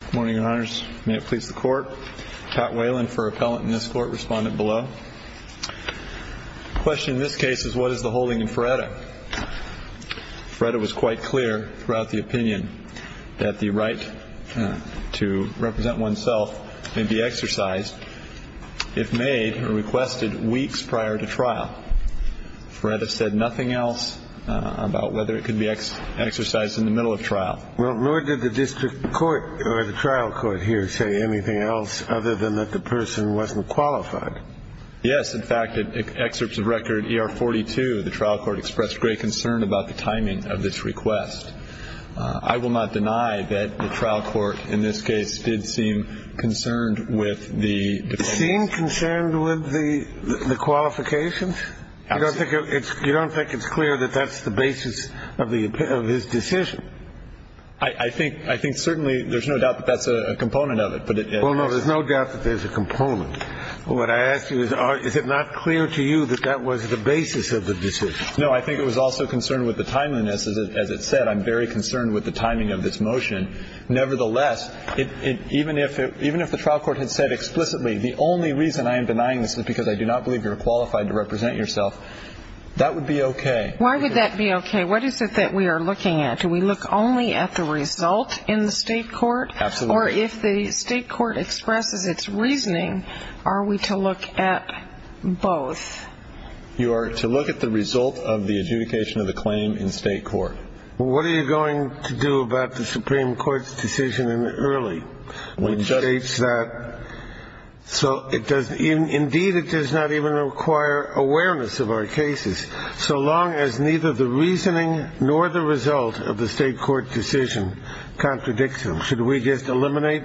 Good morning, your honors. May it please the court. Pat Whalen for appellant in this court, respondent below. The question in this case is, what is the holding in Feretta? Feretta was quite clear throughout the opinion that the right to represent oneself may be exercised, if made or requested, weeks prior to trial. Feretta said nothing else about whether it could be exercised in the middle of trial. Well, nor did the district court or the trial court here say anything else other than that the person wasn't qualified. Yes. In fact, it excerpts of record are 42. The trial court expressed great concern about the timing of this request. I will not deny that the trial court in this case did seem concerned with the scene, concerned with the qualifications. You don't think it's clear that that's the basis of his decision? I think certainly there's no doubt that that's a component of it. Well, no, there's no doubt that there's a component. What I ask you is, is it not clear to you that that was the basis of the decision? No, I think it was also concerned with the timeliness. As it said, I'm very concerned with the timing of this motion. Nevertheless, even if the trial court had said explicitly, the only reason I am denying this is because I do not believe you're qualified to represent yourself. That would be OK. Why would that be OK? What is it that we are looking at? Do we look only at the result in the state court? Absolutely. Or if the state court expresses its reasoning, are we to look at both? You are to look at the result of the adjudication of the claim in state court. Well, what are you going to do about the Supreme Court's decision in early, which states that? Indeed, it does not even require awareness of our cases, so long as neither the reasoning nor the result of the state court decision contradicts them. Should we just eliminate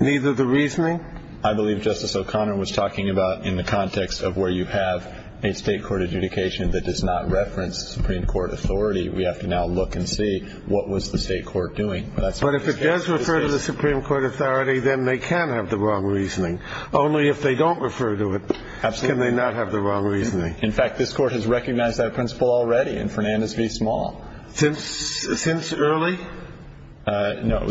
neither the reasoning? I believe Justice O'Connor was talking about in the context of where you have a state court adjudication that does not reference the Supreme Court authority, we have to now look and see what was the state court doing. But if it does refer to the Supreme Court authority, then they can have the wrong reasoning. Only if they don't refer to it can they not have the wrong reasoning. In fact, this Court has recognized that principle already in Fernandez v. Small. Since early? No.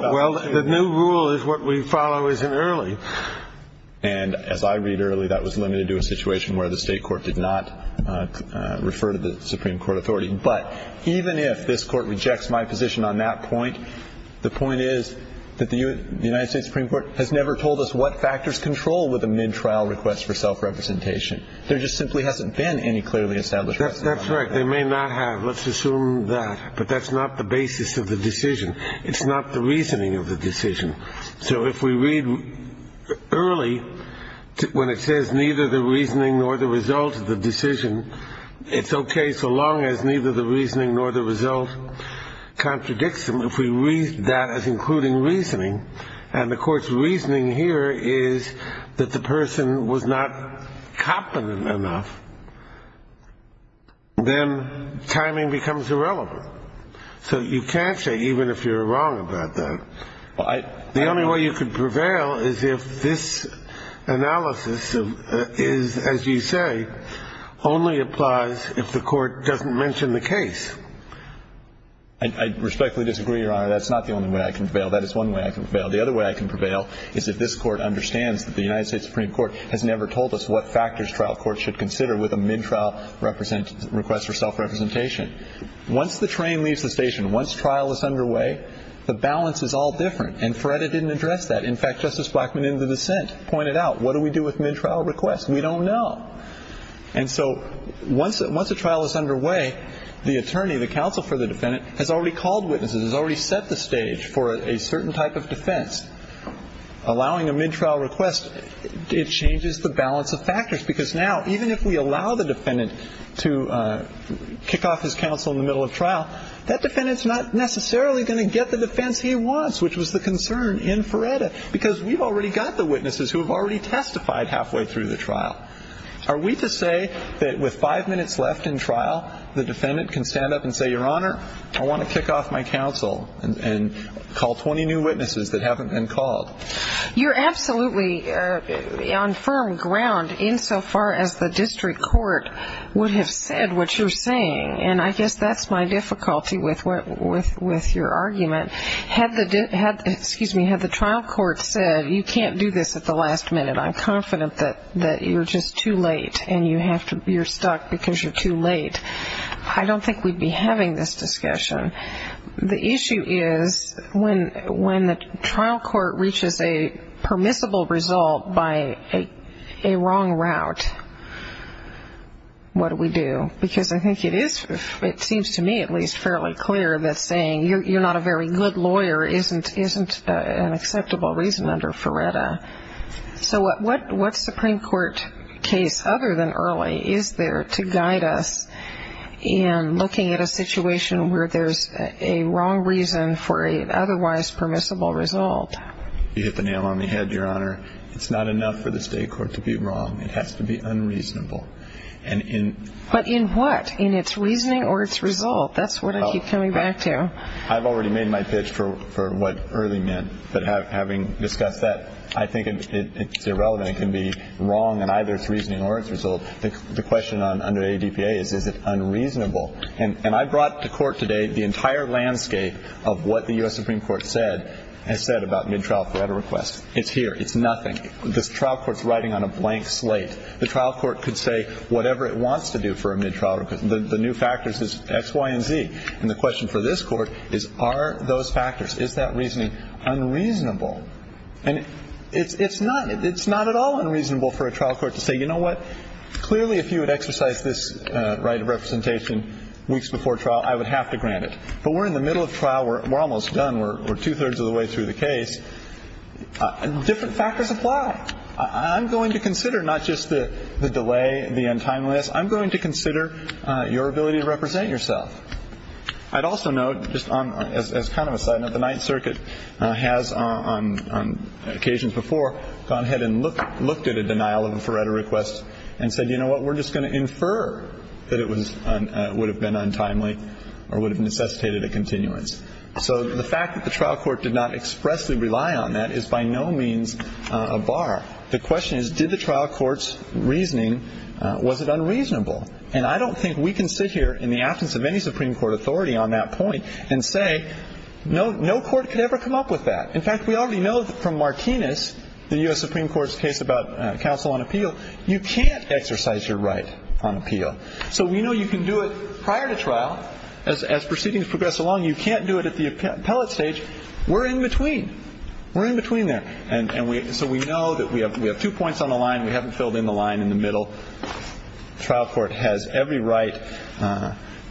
Well, the new rule is what we follow isn't early. And as I read early, that was limited to a situation where the state court did not refer to the Supreme Court authority. But even if this Court rejects my position on that point, the point is that the United States Supreme Court has never told us what factors control with a mid-trial request for self-representation. There just simply hasn't been any clearly established. That's right. They may not have. Let's assume that. But that's not the basis of the decision. It's not the reasoning of the decision. So if we read early, when it says neither the reasoning nor the result of the decision, it's okay so long as neither the reasoning nor the result contradicts them. If we read that as including reasoning, and the Court's reasoning here is that the person was not competent enough, then timing becomes irrelevant. So you can't say even if you're wrong about that. The only way you could prevail is if this analysis is, as you say, only applies if the Court doesn't mention the case. I respectfully disagree, Your Honor. That's not the only way I can prevail. That is one way I can prevail. The other way I can prevail is if this Court understands that the United States Supreme Court has never told us what factors trial courts should consider with a mid-trial request for self-representation. Once the train leaves the station, once trial is underway, the balance is all different. And Feretta didn't address that. In fact, Justice Blackmun in the dissent pointed out, what do we do with mid-trial requests? We don't know. And so once a trial is underway, the attorney, the counsel for the defendant, has already called witnesses, has already set the stage for a certain type of defense. Allowing a mid-trial request, it changes the balance of factors. Because now, even if we allow the defendant to kick off his counsel in the middle of trial, that defendant is not necessarily going to get the defense he wants, which was the concern in Feretta, because we've already got the witnesses who have already testified halfway through the trial. Are we to say that with five minutes left in trial, the defendant can stand up and say, Your Honor, I want to kick off my counsel and call 20 new witnesses that haven't been called? You're absolutely on firm ground insofar as the district court would have said what you're saying. And I guess that's my difficulty with your argument. Had the trial court said, You can't do this at the last minute. I'm confident that you're just too late and you're stuck because you're too late. I don't think we'd be having this discussion. The issue is when the trial court reaches a permissible result by a wrong route, what do we do? Because I think it is, it seems to me at least, fairly clear that saying, You're not a very good lawyer, isn't an acceptable reason under Feretta. So what Supreme Court case other than Early is there to guide us in looking at a situation where there's a wrong reason for an otherwise permissible result? You hit the nail on the head, Your Honor. It's not enough for the state court to be wrong. It has to be unreasonable. But in what? In its reasoning or its result? That's what I keep coming back to. I've already made my pitch for what Early meant. But having discussed that, I think it's irrelevant. It can be wrong in either its reasoning or its result. The question under ADPA is, Is it unreasonable? And I brought to court today the entire landscape of what the U.S. Supreme Court said, has said about mid-trial Feretta requests. It's here. It's nothing. This trial court's writing on a blank slate. The trial court could say whatever it wants to do for a mid-trial request. The new factors is X, Y, and Z. And the question for this court is, Are those factors? Is that reasoning unreasonable? And it's not at all unreasonable for a trial court to say, You know what? Clearly, if you would exercise this right of representation weeks before trial, I would have to grant it. But we're in the middle of trial. We're almost done. We're two-thirds of the way through the case. Different factors apply. I'm going to consider not just the delay, the end time list. I'm going to consider your ability to represent yourself. I'd also note, just as kind of a side note, the Ninth Circuit has, on occasions before, gone ahead and looked at a denial of a Feretta request and said, You know what? We're just going to infer that it would have been untimely or would have necessitated a continuance. So the fact that the trial court did not expressly rely on that is by no means a bar. The question is, Did the trial court's reasoning, was it unreasonable? And I don't think we can sit here in the absence of any Supreme Court authority on that point and say no court could ever come up with that. In fact, we already know from Martinez, the U.S. Supreme Court's case about counsel on appeal, you can't exercise your right on appeal. So we know you can do it prior to trial. As proceedings progress along, you can't do it at the appellate stage. We're in between. We're in between there. And so we know that we have two points on the line. We haven't filled in the line in the middle. So the trial court has every right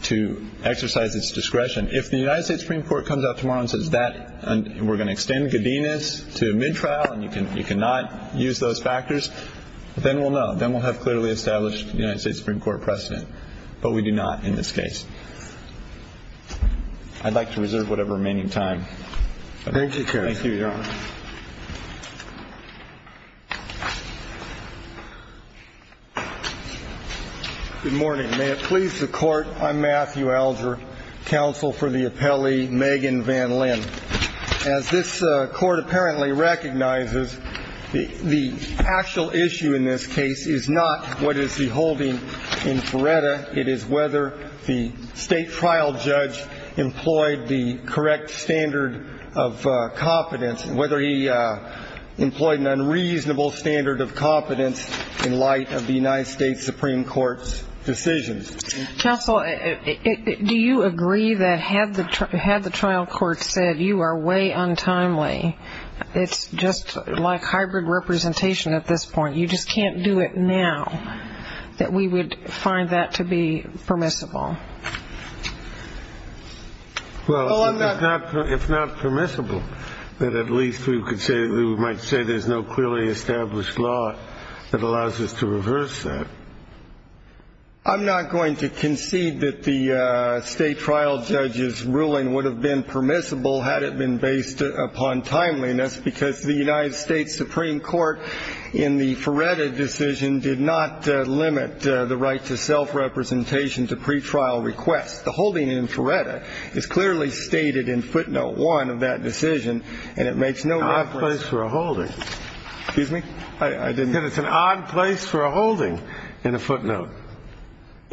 to exercise its discretion. If the United States Supreme Court comes out tomorrow and says that we're going to extend Cadenas to mid-trial and you cannot use those factors, then we'll know. Then we'll have clearly established the United States Supreme Court precedent. But we do not in this case. I'd like to reserve whatever remaining time. Thank you, counsel. Thank you, Your Honor. Good morning. May it please the Court, I'm Matthew Alger, counsel for the appellee Megan Van Lin. As this Court apparently recognizes, the actual issue in this case is not what is the holding in Feretta. It is whether the state trial judge employed the correct standard of competence, whether he employed an unreasonable standard of competence in light of the United States Supreme Court's decisions. Counsel, do you agree that had the trial court said you are way untimely, it's just like hybrid representation at this point, you just can't do it now, that we would find that to be permissible? Well, if not permissible, then at least we might say there's no clearly established law that allows us to reverse that. I'm not going to concede that the state trial judge's ruling would have been permissible had it been based upon timeliness, because the United States Supreme Court, in the Feretta decision, did not limit the right to self-representation to pretrial requests. The holding in Feretta is clearly stated in footnote one of that decision, and it makes no reference. It's an odd place for a holding. Excuse me? I didn't. It's an odd place for a holding in a footnote.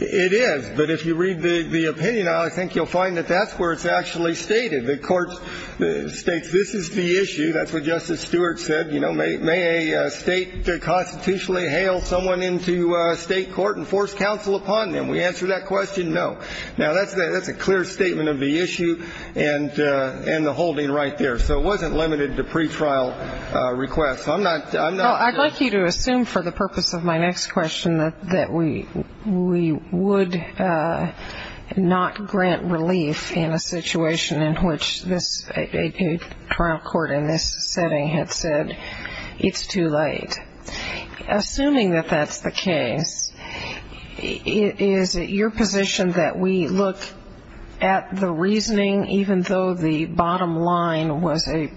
It is. But if you read the opinion, I think you'll find that that's where it's actually stated. The court states this is the issue, that's what Justice Stewart said, may a state constitutionally hail someone into state court and force counsel upon them. We answer that question, no. Now, that's a clear statement of the issue and the holding right there. So it wasn't limited to pretrial requests. I'd like you to assume for the purpose of my next question that we would not grant relief in a situation in which a trial court in this setting had said it's too late. Assuming that that's the case, is it your position that we look at the reasoning, even though the bottom line was a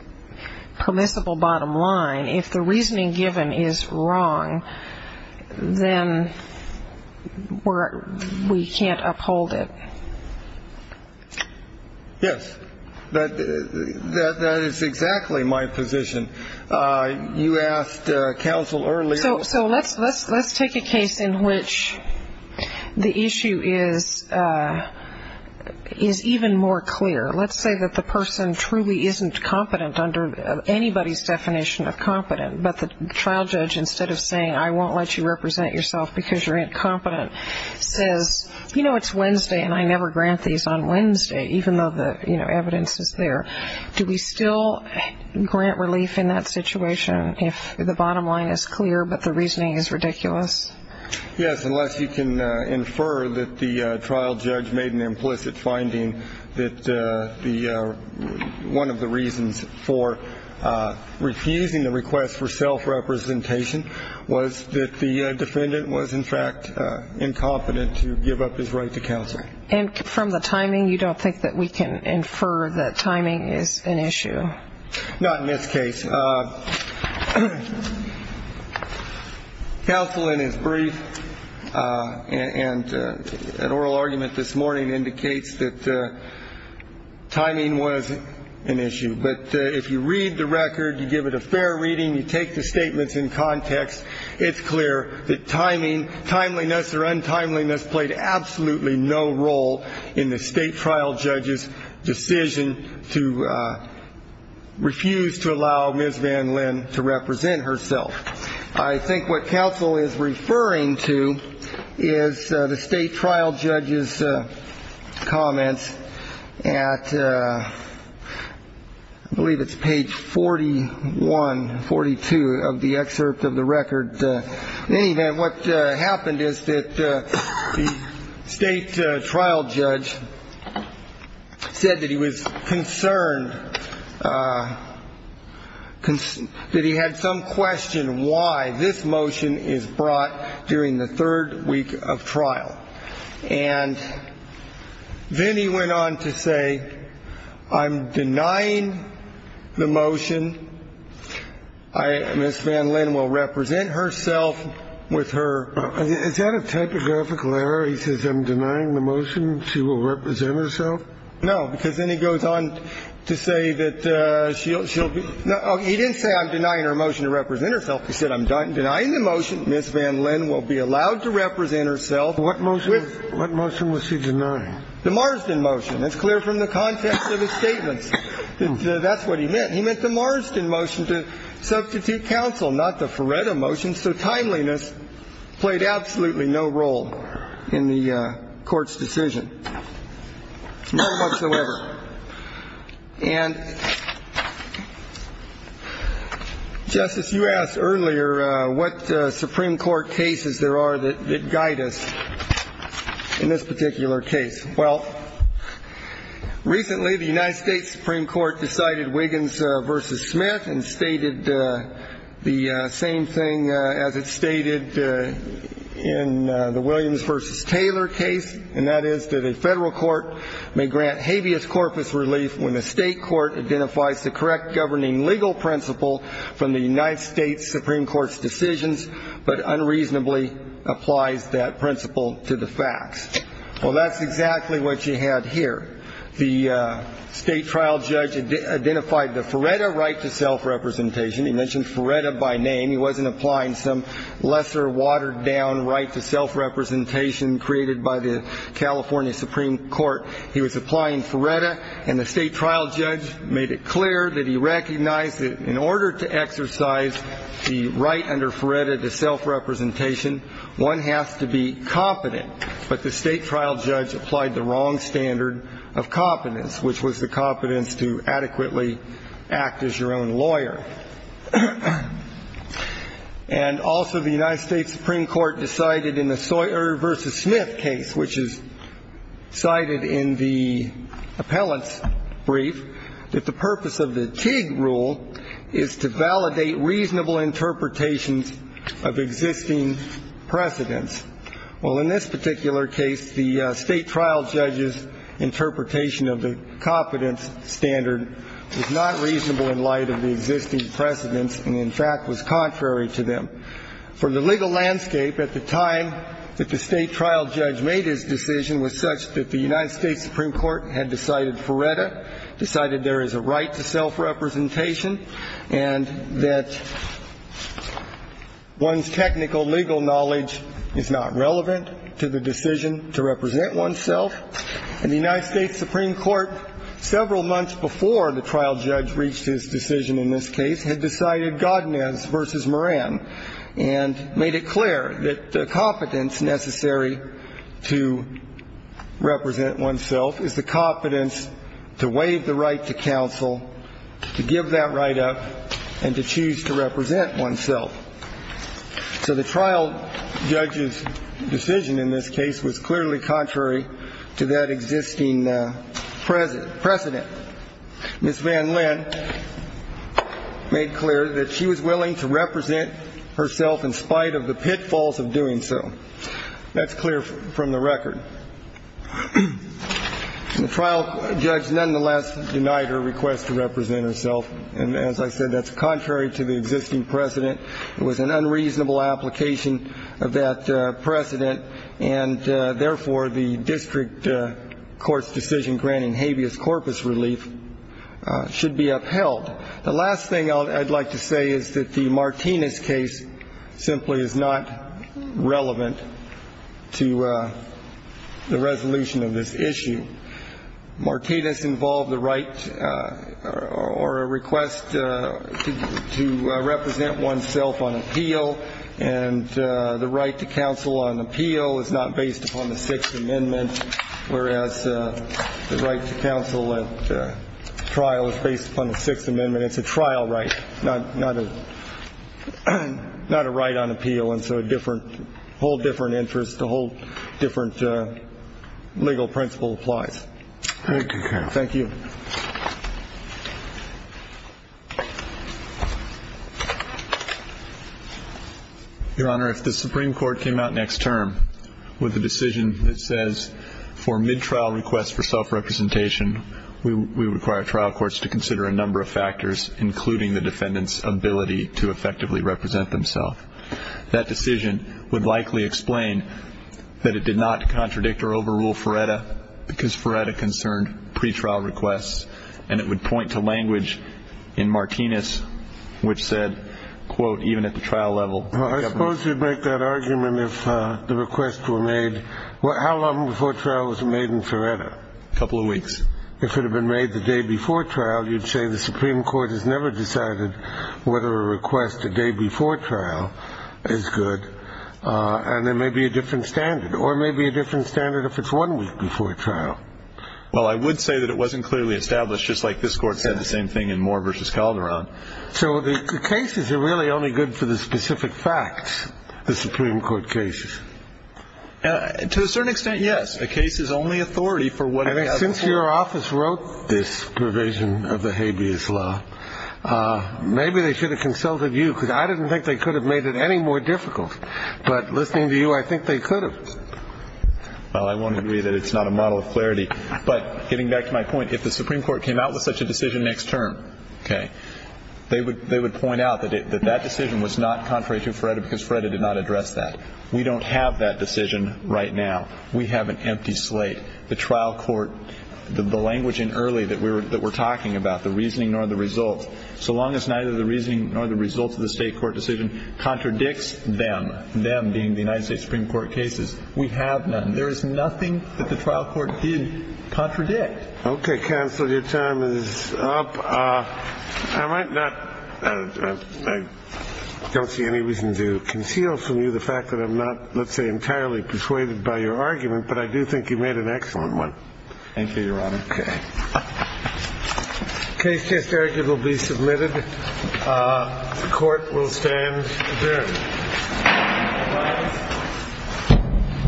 permissible bottom line, if the reasoning given is wrong, then we can't uphold it? Yes. That is exactly my position. You asked counsel earlier. So let's take a case in which the issue is even more clear. Let's say that the person truly isn't competent under anybody's definition of competent, but the trial judge, instead of saying I won't let you represent yourself because you're incompetent, says, you know, it's Wednesday and I never grant these on Wednesday, even though the evidence is there. Do we still grant relief in that situation if the bottom line is clear but the reasoning is ridiculous? Yes, unless you can infer that the trial judge made an implicit finding that one of the reasons for refusing the request for self-representation was that the defendant was, in fact, incompetent to give up his right to counsel. And from the timing, you don't think that we can infer that timing is an issue? Not in this case. Counsel, in his brief and oral argument this morning, indicates that timing was an issue. But if you read the record, you give it a fair reading, you take the statements in context, it's clear that timing, timeliness or untimeliness played absolutely no role in the state trial judge's decision to refuse to allow Ms. Van Lin to represent herself. I think what counsel is referring to is the state trial judge's comments at I believe it's page 41, 42, of the excerpt of the record. In any event, what happened is that the state trial judge said that he was concerned, that he had some question why this motion is brought during the third week of trial. And then he went on to say, I'm denying the motion. Ms. Van Lin will represent herself with her. Is that a typographical error? He says I'm denying the motion, she will represent herself? No. Because then he goes on to say that she'll be. He didn't say I'm denying her motion to represent herself. He said I'm denying the motion. Ms. Van Lin will be allowed to represent herself. What motion was he denying? The Marsden motion. It's clear from the context of his statements that that's what he meant. He meant the Marsden motion to substitute counsel, not the Feretta motion. So timeliness played absolutely no role in the Court's decision. Not whatsoever. And, Justice, you asked earlier what Supreme Court cases there are that guide us in this particular case. Well, recently the United States Supreme Court decided Wiggins v. Smith and stated the same thing as it stated in the Williams v. Taylor case, and that is that a federal court may grant habeas corpus relief when the state court identifies the correct governing legal principle from the United States Supreme Court's decisions but unreasonably applies that principle to the facts. Well, that's exactly what you had here. The state trial judge identified the Feretta right to self-representation. He mentioned Feretta by name. He wasn't applying some lesser watered-down right to self-representation created by the California Supreme Court. He was applying Feretta, and the state trial judge made it clear that he recognized that in order to exercise the right under Feretta to self-representation, one has to be competent. But the state trial judge applied the wrong standard of competence, which was the competence to adequately act as your own lawyer. And also the United States Supreme Court decided in the Sawyer v. Smith case, which is cited in the appellant's brief, that the purpose of the Teague rule is to validate reasonable interpretations of existing precedents. Well, in this particular case, the state trial judge's interpretation of the competence standard is not reasonable in light of the existing precedents and, in fact, was contrary to them. For the legal landscape at the time that the state trial judge made his decision was such that the United States Supreme Court had decided Feretta, decided there is a right to self-representation, and that one's technical legal knowledge is not relevant to the decision to represent oneself. And the United States Supreme Court, several months before the trial judge reached his decision in this case, had decided Godinez v. Moran and made it clear that the competence necessary to represent oneself is the competence to waive the right to counsel, to give that right up, and to choose to represent oneself. So the trial judge's decision in this case was clearly contrary to that existing precedent. Ms. Van Lin made clear that she was willing to represent herself in spite of the pitfalls of doing so. That's clear from the record. And the trial judge, nonetheless, denied her request to represent herself. And as I said, that's contrary to the existing precedent. It was an unreasonable application of that precedent, and therefore the district court's decision granting habeas corpus relief should be upheld. The last thing I'd like to say is that the Martinez case simply is not relevant to the resolution of this issue. Martinez involved the right or a request to represent oneself on appeal, and the right to counsel on appeal is not based upon the Sixth Amendment, whereas the right to counsel at trial is based upon the Sixth Amendment. It's a trial right, not a right on appeal, and so a whole different interest, a whole different legal principle applies. Thank you, counsel. Thank you. Your Honor, if the Supreme Court came out next term with a decision that says, for mid-trial requests for self-representation, including the defendant's ability to effectively represent themself, that decision would likely explain that it did not contradict or overrule Ferretta because Ferretta concerned pretrial requests, and it would point to language in Martinez which said, quote, even at the trial level. Well, I suppose you'd make that argument if the requests were made. How long before trial was it made in Ferretta? A couple of weeks. If it had been made the day before trial, you'd say the Supreme Court has never decided whether a request a day before trial is good, and there may be a different standard, or maybe a different standard if it's one week before trial. Well, I would say that it wasn't clearly established, just like this Court said the same thing in Moore v. Calderon. So the cases are really only good for the specific facts, the Supreme Court cases. To a certain extent, yes. A case is only authority for what happens. Since your office wrote this provision of the habeas law, maybe they should have consulted you because I didn't think they could have made it any more difficult. But listening to you, I think they could have. Well, I won't agree that it's not a model of clarity. But getting back to my point, if the Supreme Court came out with such a decision next term, okay, they would point out that that decision was not contrary to Ferretta because Ferretta did not address that. We don't have that decision right now. We have an empty slate. The trial court, the language in early that we're talking about, the reasoning nor the results, so long as neither the reasoning nor the results of the state court decision contradicts them, them being the United States Supreme Court cases, we have none. There is nothing that the trial court did contradict. Okay, counsel, your time is up. I might not – I don't see any reason to conceal from you the fact that I'm not, let's say, entirely persuaded by your argument, but I do think you made an excellent one. Thank you, Your Honor. Okay. The case here will be submitted. The court will stand adjourned.